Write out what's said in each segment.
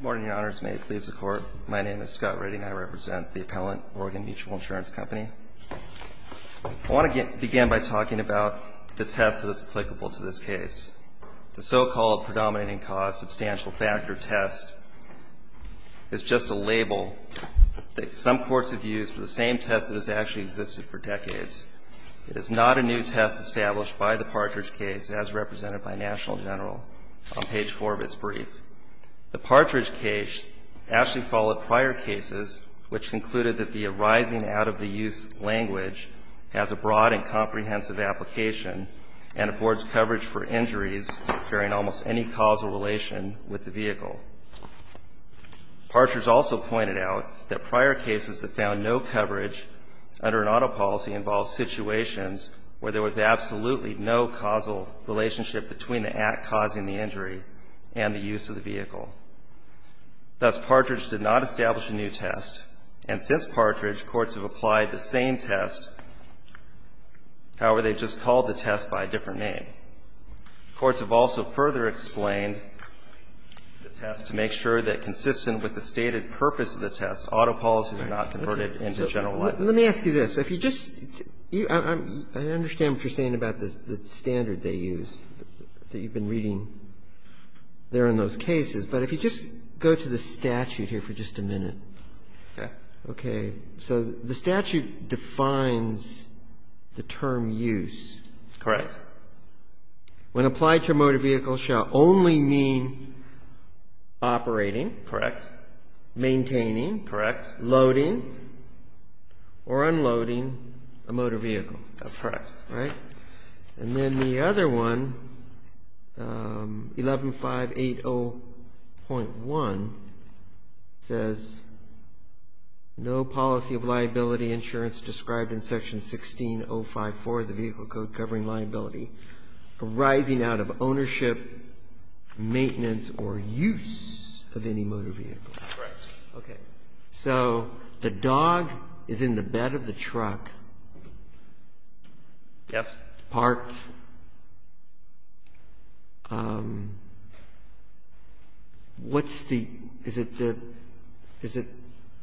Morning, Your Honors. May it please the Court. My name is Scott Redding. I represent the appellant, Oregon Mutual Insurance Company. I want to begin by talking about the test that is applicable to this case. The so-called predominating cause substantial factor test is just a label that some courts have used for the same test that has actually existed for decades. It is not a new test established by the Partridge case as represented by National General on page 4 of its brief. The Partridge case actually followed prior cases which concluded that the arising out-of-the-use language has a broad and comprehensive application and affords coverage for injuries during almost any causal relation with the vehicle. Partridge also pointed out that prior cases that found no coverage under an auto policy involved situations where there was absolutely no causal relationship between the act causing the injury and the use of the vehicle. Thus, Partridge did not establish a new test. And since Partridge, courts have applied the same test, however, they've just called the test by a different name. Courts have also further explained the test to make sure that consistent with the stated purpose of the test, auto policies are not converted into general language. Let me ask you this. If you just – I understand what you're saying about the standard that you've been reading there in those cases, but if you just go to the statute here for just a minute. Okay. Okay. So the statute defines the term use. Correct. When applied to a motor vehicle shall only mean operating. Correct. Maintaining. Correct. Loading or unloading a motor vehicle. That's correct. And then the other one, 11-580.1, says no policy of liability insurance described in Section 16-054 of the Vehicle Code covering liability arising out of ownership, maintenance, or use of any motor vehicle. Correct. Okay. So the dog is in the bed of the truck. Yes. Parked. What's the – is it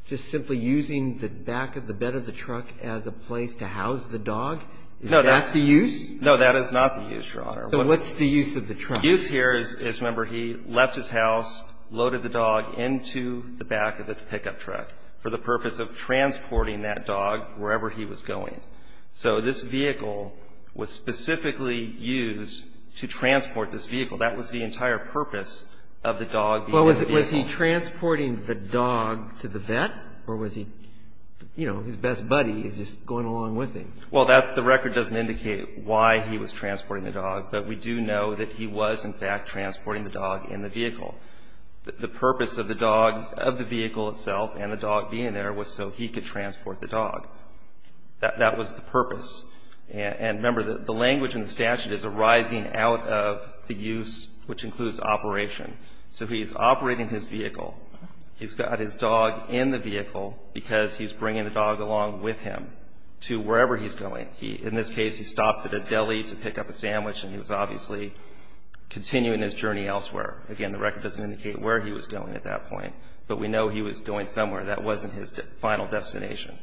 just simply using the back of the bed of the truck as a place to house the dog? Is that the use? No, that is not the use, Your Honor. So what's the use of the truck? The use here is, remember, he left his house, loaded the dog into the back of the pickup truck for the purpose of transporting that dog wherever he was going. So this vehicle was specifically used to transport this vehicle. That was the entire purpose of the dog being in the vehicle. Well, was he transporting the dog to the vet, or was he, you know, his best buddy is just going along with him? Well, that's – the record doesn't indicate why he was transporting the dog, but we do know that he was, in fact, transporting the dog in the vehicle. The purpose of the dog – of the vehicle itself and the dog being there was so he could transport the dog. That was the purpose. And, remember, the language in the statute is arising out of the use, which includes operation. So he's operating his vehicle. He's got his dog in the vehicle because he's bringing the dog along with him to wherever he's going. In this case, he stopped at a deli to pick up a sandwich, and he was obviously continuing his journey elsewhere. Again, the record doesn't indicate where he was going at that point, but we know he was going somewhere. That wasn't his final destination.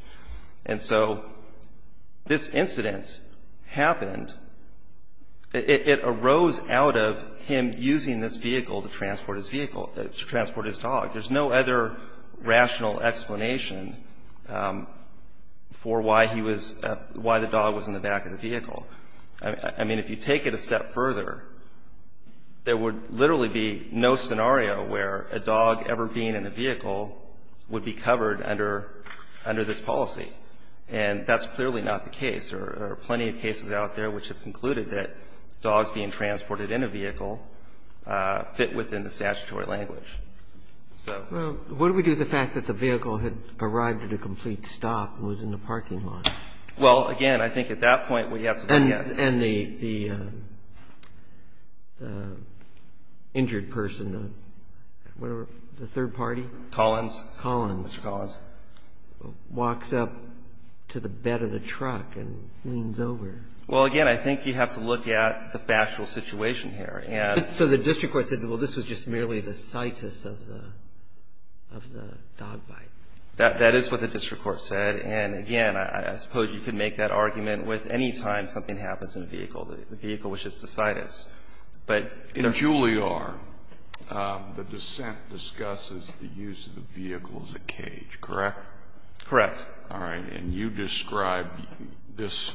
And so this incident happened – it arose out of him using this vehicle to transport his vehicle – to transport his dog. There's no other rational explanation for why he was – why the dog was in the back of the vehicle. I mean, if you take it a step further, there would literally be no scenario where a dog ever being in a vehicle would be covered under this policy. And that's clearly not the case. There are plenty of cases out there which have concluded that dogs being transported in a vehicle fit within the statutory language. So – Well, what do we do with the fact that the vehicle had arrived at a complete stop and was in the parking lot? Well, again, I think at that point we have to look at – And the injured person, the third party? Collins. Mr. Collins. Walks up to the bed of the truck and leans over. Well, again, I think you have to look at the factual situation here. So the district court said, well, this was just merely the situs of the dog bite? That is what the district court said. And, again, I suppose you could make that argument with any time something happens in a vehicle, the vehicle which is to situs. But – In Juilliard, the dissent discusses the use of the vehicle as a cage, correct? Correct. All right. And you describe this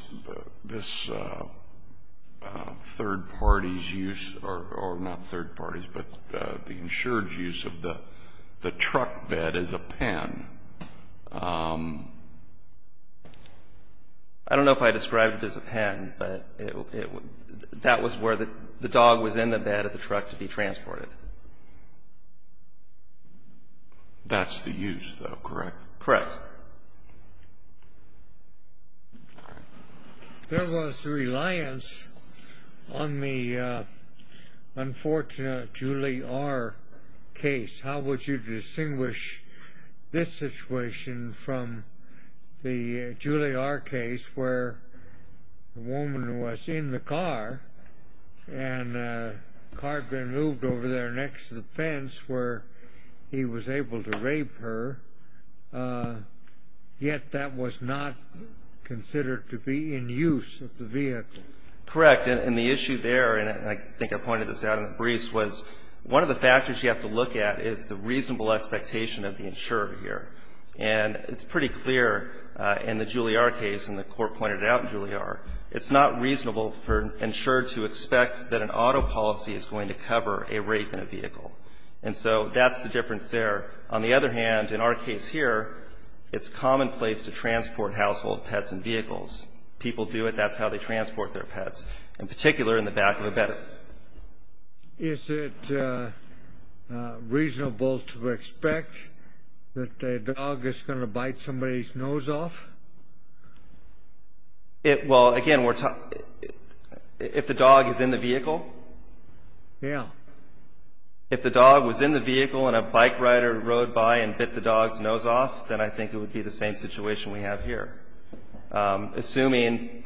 third party's use, or not third party's, but the insured's use of the truck bed as a pen. I don't know if I described it as a pen, but that was where the dog was in the bed of the truck to be transported. That's the use, though, correct? Correct. There was reliance on the unfortunate Juilliard case. How would you distinguish this situation from the Juilliard case where the woman was in the car, and the car had been moved over there next to the fence where he was able to rape her, yet that was not considered to be in use of the vehicle? Correct. And the issue there, and I think I pointed this out in the briefs, was one of the factors you have to look at is the reasonable expectation of the insurer here. And it's pretty clear in the Juilliard case, and the court pointed it out in Juilliard, it's not reasonable for an insurer to expect that an auto policy is going to cover a rape in a vehicle. And so that's the difference there. On the other hand, in our case here, it's commonplace to transport household pets in vehicles. People do it. That's how they transport their pets, in particular in the back of a bed. Is it reasonable to expect that a dog is going to bite somebody's nose off? Well, again, if the dog is in the vehicle? Yeah. If the dog was in the vehicle and a bike rider rode by and bit the dog's nose off, then I think it would be the same situation we have here, assuming.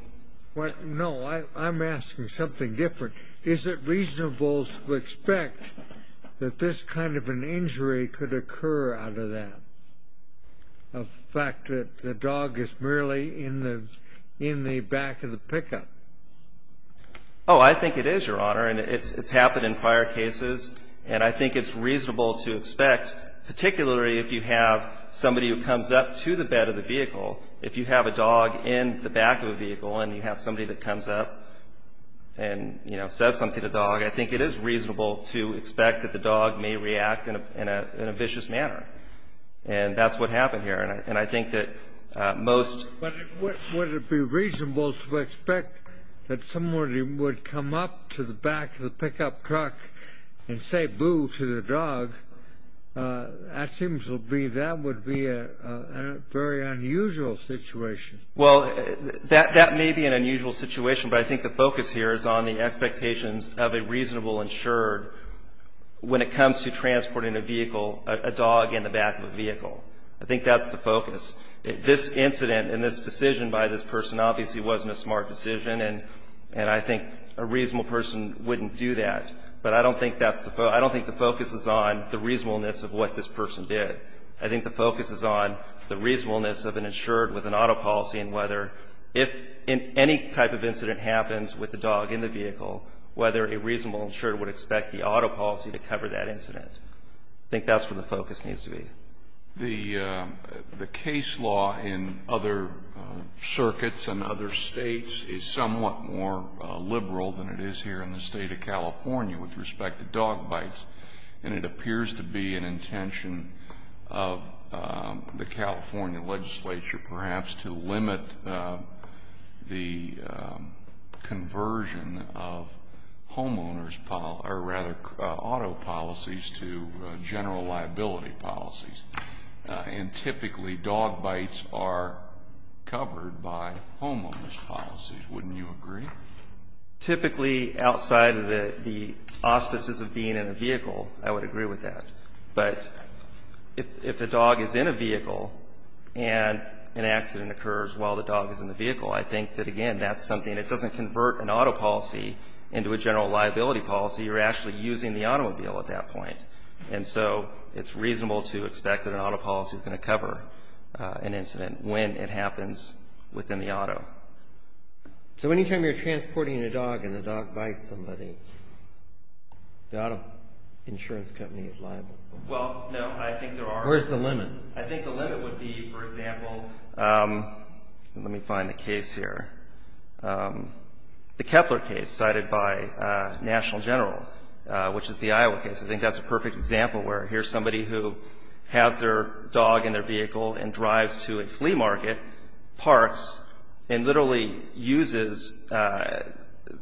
No, I'm asking something different. Is it reasonable to expect that this kind of an injury could occur out of that, the fact that the dog is merely in the back of the pickup? Oh, I think it is, Your Honor, and it's happened in prior cases. And I think it's reasonable to expect, particularly if you have somebody who comes up to the bed of the vehicle, if you have a dog in the back of a vehicle and you have somebody that comes up and says something to the dog, I think it is reasonable to expect that the dog may react in a vicious manner. And that's what happened here. And I think that most— But would it be reasonable to expect that somebody would come up to the back of the pickup truck and say boo to the dog? That seems to be—that would be a very unusual situation. Well, that may be an unusual situation, but I think the focus here is on the expectations of a reasonable insured when it comes to transporting a vehicle, a dog in the back of a vehicle. I think that's the focus. This incident and this decision by this person obviously wasn't a smart decision, and I think a reasonable person wouldn't do that. But I don't think that's the—I don't think the focus is on the reasonableness of what this person did. I think the focus is on the reasonableness of an insured with an auto policy and whether if any type of incident happens with the dog in the vehicle, whether a reasonable insured would expect the auto policy to cover that incident. I think that's where the focus needs to be. The case law in other circuits and other states is somewhat more liberal than it is here in the State of California with respect to dog bites, and it appears to be an intention of the California legislature perhaps to limit the conversion of homeowners'— and typically dog bites are covered by homeowners' policies. Wouldn't you agree? Typically, outside of the auspices of being in a vehicle, I would agree with that. But if a dog is in a vehicle and an accident occurs while the dog is in the vehicle, I think that, again, that's something—it doesn't convert an auto policy into a general liability policy. You're actually using the automobile at that point. And so it's reasonable to expect that an auto policy is going to cover an incident when it happens within the auto. So any time you're transporting a dog and the dog bites somebody, the auto insurance company is liable? Well, no. I think there are— Where's the limit? I think the limit would be, for example—let me find the case here. The Kepler case cited by National General, which is the Iowa case. I think that's a perfect example where here's somebody who has their dog in their vehicle and drives to a flea market, parks, and literally uses—the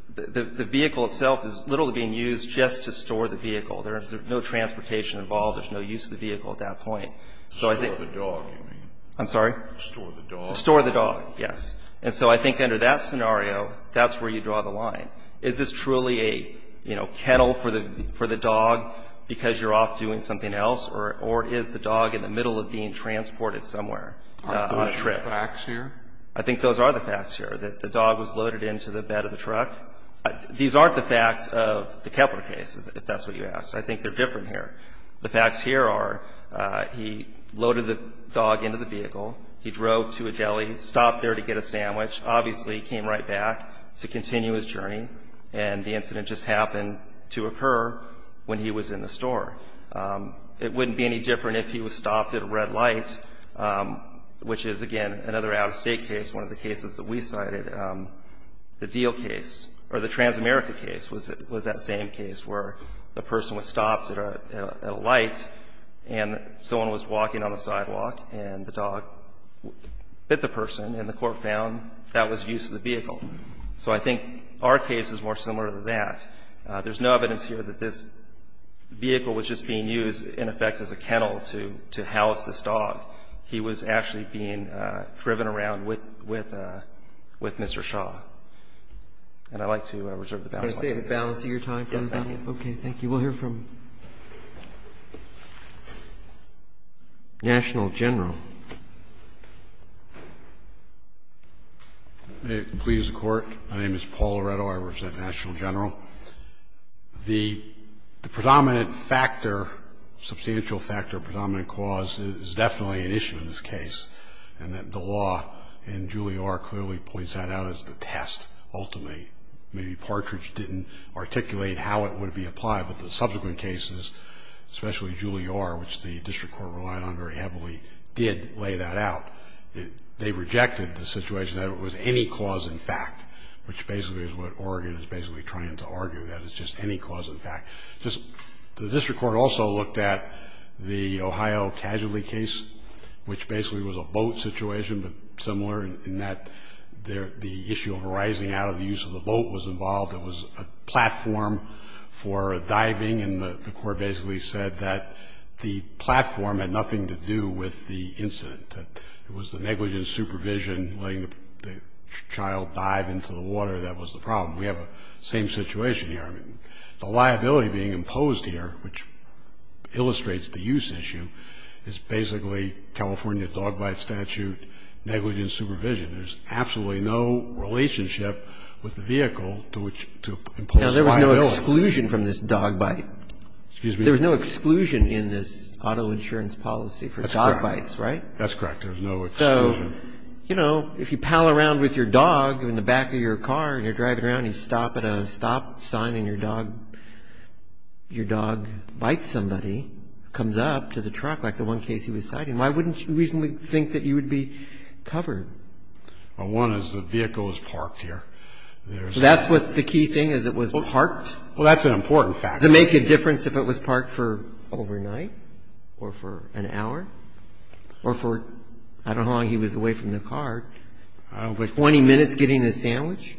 vehicle itself is literally being used just to store the vehicle. There is no transportation involved. There's no use of the vehicle at that point. Store the dog, you mean? I'm sorry? Store the dog. Store the dog, yes. And so I think under that scenario, that's where you draw the line. Is this truly a, you know, kennel for the dog because you're off doing something else, or is the dog in the middle of being transported somewhere on a trip? Aren't those your facts here? I think those are the facts here, that the dog was loaded into the bed of the truck. These aren't the facts of the Kepler case, if that's what you asked. I think they're different here. The facts here are he loaded the dog into the vehicle, he drove to a deli, stopped there to get a sandwich, obviously came right back to continue his journey, and the incident just happened to occur when he was in the store. It wouldn't be any different if he was stopped at a red light, which is, again, another out-of-state case, one of the cases that we cited. The deal case, or the Transamerica case, was that same case where the person was stopped at a light, and someone was walking on the sidewalk, and the dog bit the person, and the court found that was use of the vehicle. So I think our case is more similar to that. There's no evidence here that this vehicle was just being used, in effect, as a kennel to house this dog. He was actually being driven around with Mr. Shaw. And I'd like to reserve the balance of my time. Yes, I can. Okay, thank you. We'll hear from National General. May it please the Court. My name is Paul Loretto. I represent National General. The predominant factor, substantial factor, predominant cause is definitely an issue in this case, and that the law in Juilliard clearly points that out as the test, ultimately. Maybe Partridge didn't articulate how it would be applied, but the subsequent cases, especially Juilliard, which the district court relied on very heavily, did lay that out. They rejected the situation that it was any cause in fact, which basically is what Oregon is basically trying to argue, that it's just any cause in fact. The district court also looked at the Ohio Casualty case, which basically was a boat situation, but similar in that the issue of rising out of the use of the boat was involved. It was a platform for diving, and the court basically said that the platform had nothing to do with the incident. It was the negligent supervision, letting the child dive into the water that was the problem. We have the same situation here. I mean, the liability being imposed here, which illustrates the use issue, is basically California dog bite statute negligent supervision. There's absolutely no relationship with the vehicle to impose liability. Now, there was no exclusion from this dog bite. Excuse me? There was no exclusion in this auto insurance policy for dog bites, right? That's correct. There was no exclusion. So, you know, if you pal around with your dog in the back of your car and you're driving around and you stop at a stop sign and your dog bites somebody, comes up to the truck, like the one Casey was citing, why wouldn't you reasonably think that you would be covered? Well, one is the vehicle was parked here. So that's what's the key thing, is it was parked? Well, that's an important factor. Does it make a difference if it was parked for overnight or for an hour or for, I don't know how long he was away from the car, 20 minutes getting a sandwich?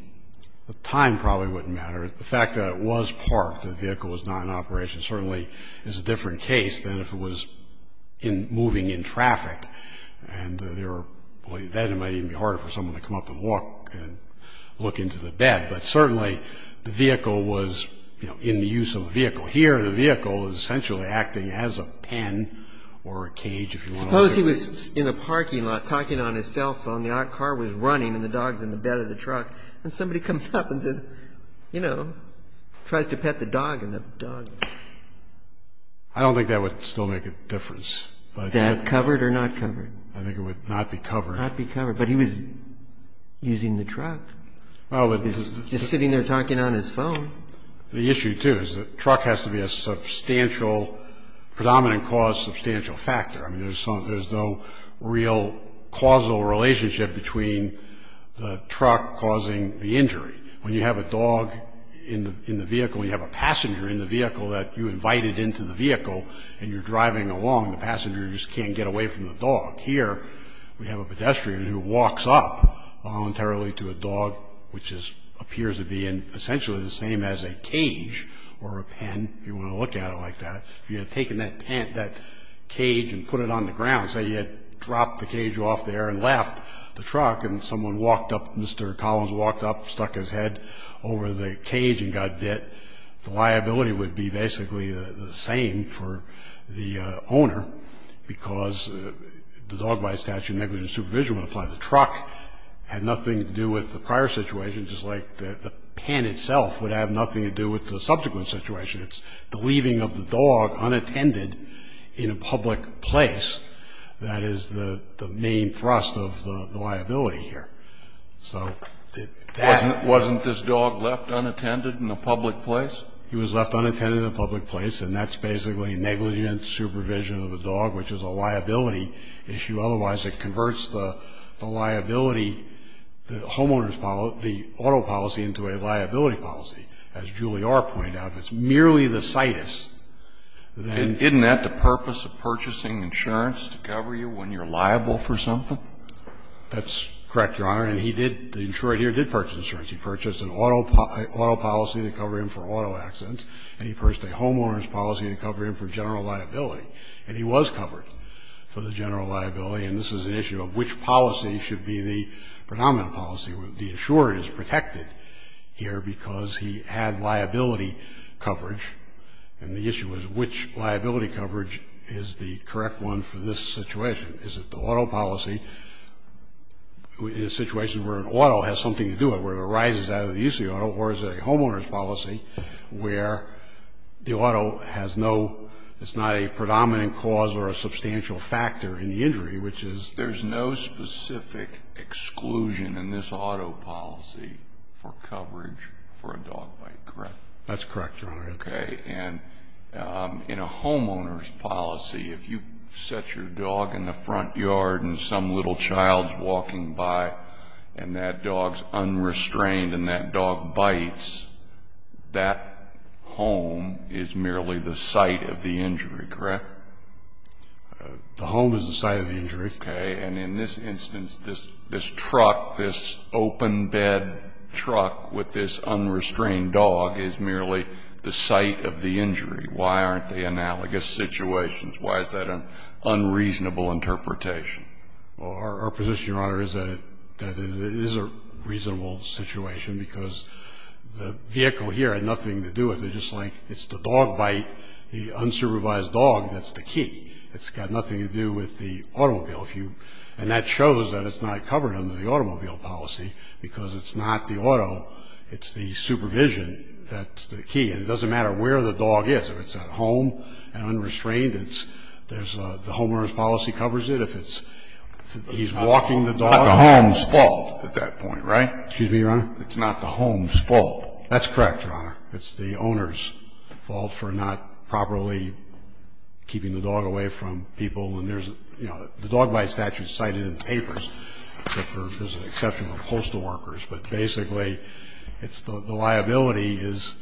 The time probably wouldn't matter. The fact that it was parked, the vehicle was not in operation, certainly is a different case than if it was moving in traffic. And that might even be harder for someone to come up and walk and look into the bed. But certainly the vehicle was, you know, in the use of the vehicle. Here the vehicle is essentially acting as a pen or a cage if you want to put it that way. Suppose he was in the parking lot talking on his cell phone, the car was running and the dog was in the bed of the truck, and somebody comes up and, you know, tries to pet the dog and the dog. I don't think that would still make a difference. That covered or not covered? I think it would not be covered. Not be covered. But he was using the truck. He was just sitting there talking on his phone. The issue, too, is the truck has to be a substantial, predominant cause, substantial factor. I mean, there's no real causal relationship between the truck causing the injury. When you have a dog in the vehicle and you have a passenger in the vehicle that you invited into the vehicle and you're driving along, the passenger just can't get away from the dog. Here we have a pedestrian who walks up voluntarily to a dog, which appears to be essentially the same as a cage or a pen if you want to look at it like that. If you had taken that cage and put it on the ground, say you had dropped the cage off there and left the truck and someone walked up, Mr. Collins walked up, stuck his head over the cage and got bit, the liability would be basically the same for the owner because the dog bite statute negligent supervision would apply. The truck had nothing to do with the prior situation, just like the pen itself would have nothing to do with the subsequent situation. It's the leaving of the dog unattended in a public place that is the main thrust of the liability here. So that's... Wasn't this dog left unattended in a public place? He was left unattended in a public place, and that's basically negligent supervision of a dog, which is a liability issue. Otherwise, it converts the liability, the homeowner's policy, the auto policy into a liability policy. As Julie R. pointed out, it's merely the situs that... And isn't that the purpose of purchasing insurance, to cover you when you're liable for something? That's correct, Your Honor. And he did, the insurer here did purchase insurance. He purchased an auto policy to cover him for auto accidents, and he purchased a homeowner's policy to cover him for general liability. And he was covered for the general liability, and this is an issue of which policy should be the predominant policy. The insurer is protected here because he had liability coverage, and the issue is which liability coverage is the correct one for this situation. Is it the auto policy, in a situation where an auto has something to do with it, where it arises out of the use of the auto, or is it a homeowner's policy, where the auto has no... It's not a predominant cause or a substantial factor in the injury, which is... It's an exclusion in this auto policy for coverage for a dog bite, correct? That's correct, Your Honor. Okay. And in a homeowner's policy, if you set your dog in the front yard and some little child's walking by, and that dog's unrestrained and that dog bites, that home is merely the site of the injury, correct? The home is the site of the injury. Okay. And in this instance, this truck, this open bed truck with this unrestrained dog is merely the site of the injury. Why aren't they analogous situations? Why is that an unreasonable interpretation? Well, our position, Your Honor, is that it is a reasonable situation because the vehicle here had nothing to do with it. Just like it's the dog bite, the unsupervised dog, that's the key. It's got nothing to do with the automobile. And that shows that it's not covered under the automobile policy because it's not the auto, it's the supervision that's the key. And it doesn't matter where the dog is. If it's at home and unrestrained, the homeowner's policy covers it. If he's walking the dog... It's not the home's fault at that point, right? Excuse me, Your Honor? It's not the home's fault. That's correct, Your Honor. It's the owner's fault for not properly keeping the dog away from people. And there's, you know, the dog bite statute is cited in the papers, except for there's an exception for postal workers. But basically, the liability is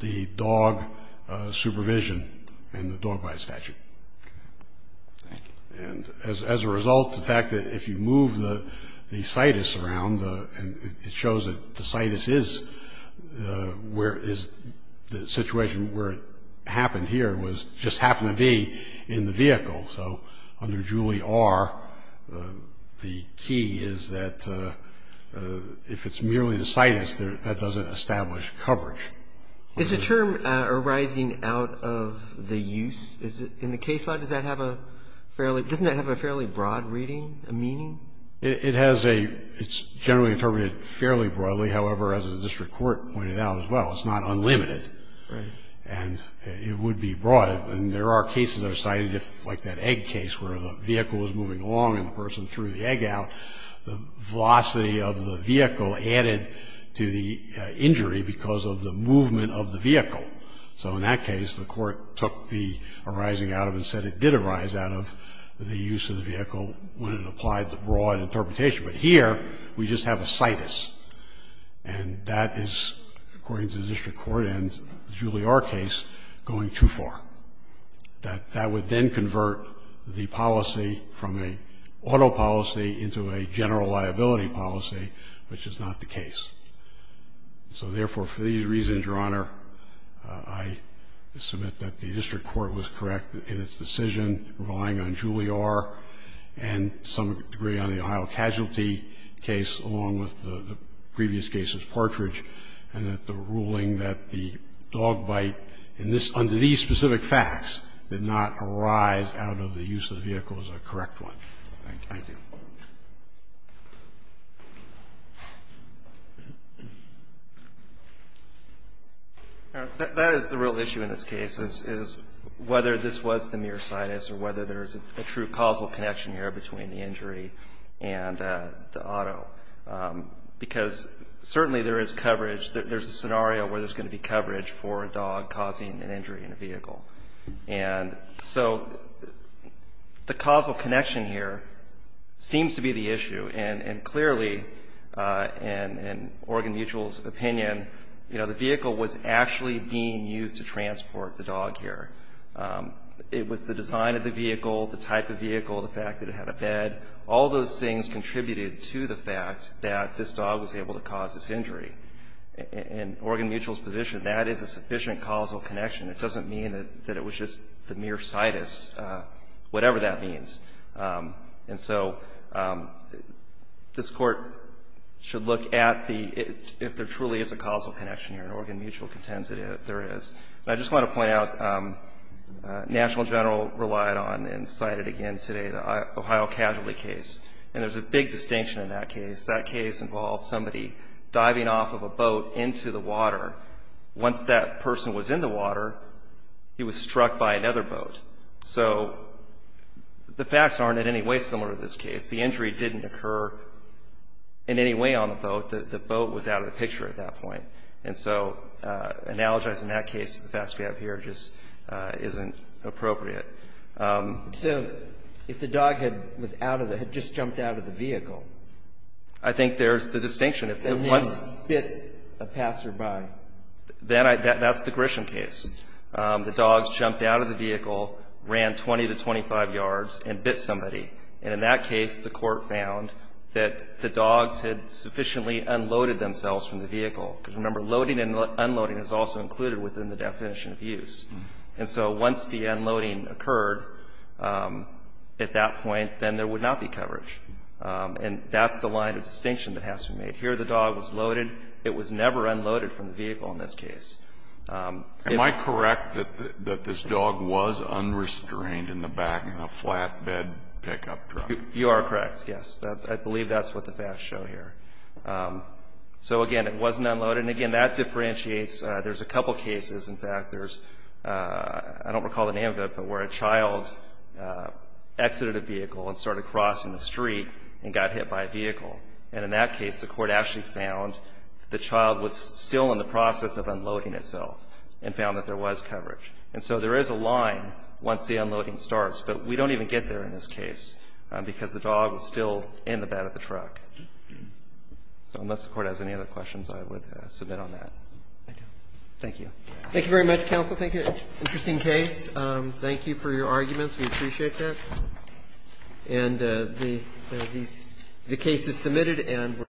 the dog supervision and the dog bite statute. Okay. Thank you. And as a result, the fact that if you move the situs around, it shows that the situs is the situation where it happened here, just happened to be in the vehicle. So under Julie R., the key is that if it's merely the situs, that doesn't establish coverage. Is the term arising out of the use? In the case law, doesn't that have a fairly broad reading, a meaning? It's generally interpreted fairly broadly. However, as the district court pointed out as well, it's not unlimited. Right. And it would be broad. And there are cases that are cited, like that egg case where the vehicle was moving along and the person threw the egg out. The velocity of the vehicle added to the injury because of the movement of the vehicle. So in that case, the court took the arising out of and said it did arise out of the use of the vehicle when it applied the broad interpretation. But here, we just have a situs. And that is, according to the district court and Julie R. case, going too far. That would then convert the policy from an auto policy into a general liability policy, which is not the case. So therefore, for these reasons, Your Honor, I submit that the district court was correct in its decision relying on Julie R. and some degree on the Ohio Casualty case, along with the previous cases, Partridge, and that the ruling that the dog bite in this under these specific facts did not arise out of the use of the vehicle is a correct one. Thank you. Thank you. That is the real issue in this case, is whether this was the mere situs or whether there's a true causal connection here between the injury and the auto. Because certainly there is coverage. There's a scenario where there's going to be coverage for a dog causing an injury in a vehicle. And so the causal connection here seems to be the issue. And clearly, in Oregon Mutual's opinion, you know, the vehicle was actually being used to transport the dog here. It was the design of the vehicle, the type of vehicle, the fact that it had a bed. All those things contributed to the fact that this dog was able to cause this injury. In Oregon Mutual's position, that is a sufficient causal connection. It doesn't mean that it was just the mere situs, whatever that means. And so this Court should look at the – if there truly is a causal connection here, and Oregon Mutual contends that there is. And I just want to point out, National General relied on and cited again today the Ohio casualty case. And there's a big distinction in that case. That case involved somebody diving off of a boat into the water. Once that person was in the water, he was struck by another boat. So the facts aren't in any way similar to this case. The injury didn't occur in any way on the boat. The boat was out of the picture at that point. And so analogizing that case to the facts we have here just isn't appropriate. So if the dog had just jumped out of the vehicle? I think there's the distinction. And then bit a passerby. That's the Grisham case. The dogs jumped out of the vehicle, ran 20 to 25 yards, and bit somebody. And in that case, the Court found that the dogs had sufficiently unloaded themselves from the vehicle. Because remember, loading and unloading is also included within the definition of use. And so once the unloading occurred at that point, then there would not be coverage. And that's the line of distinction that has to be made. Here the dog was loaded. It was never unloaded from the vehicle in this case. Am I correct that this dog was unrestrained in the back in a flatbed pickup truck? You are correct, yes. I believe that's what the facts show here. So, again, it wasn't unloaded. And, again, that differentiates. There's a couple cases. In fact, there's, I don't recall the name of it, but where a child exited a vehicle and started crossing the street and got hit by a vehicle. And in that case, the Court actually found the child was still in the process of unloading itself and found that there was coverage. And so there is a line once the unloading starts. But we don't even get there in this case because the dog was still in the bed of the truck. So unless the Court has any other questions, I would submit on that. Thank you. Thank you very much, counsel. Thank you. Interesting case. Thank you for your arguments. And the case is submitted and we're going to move on.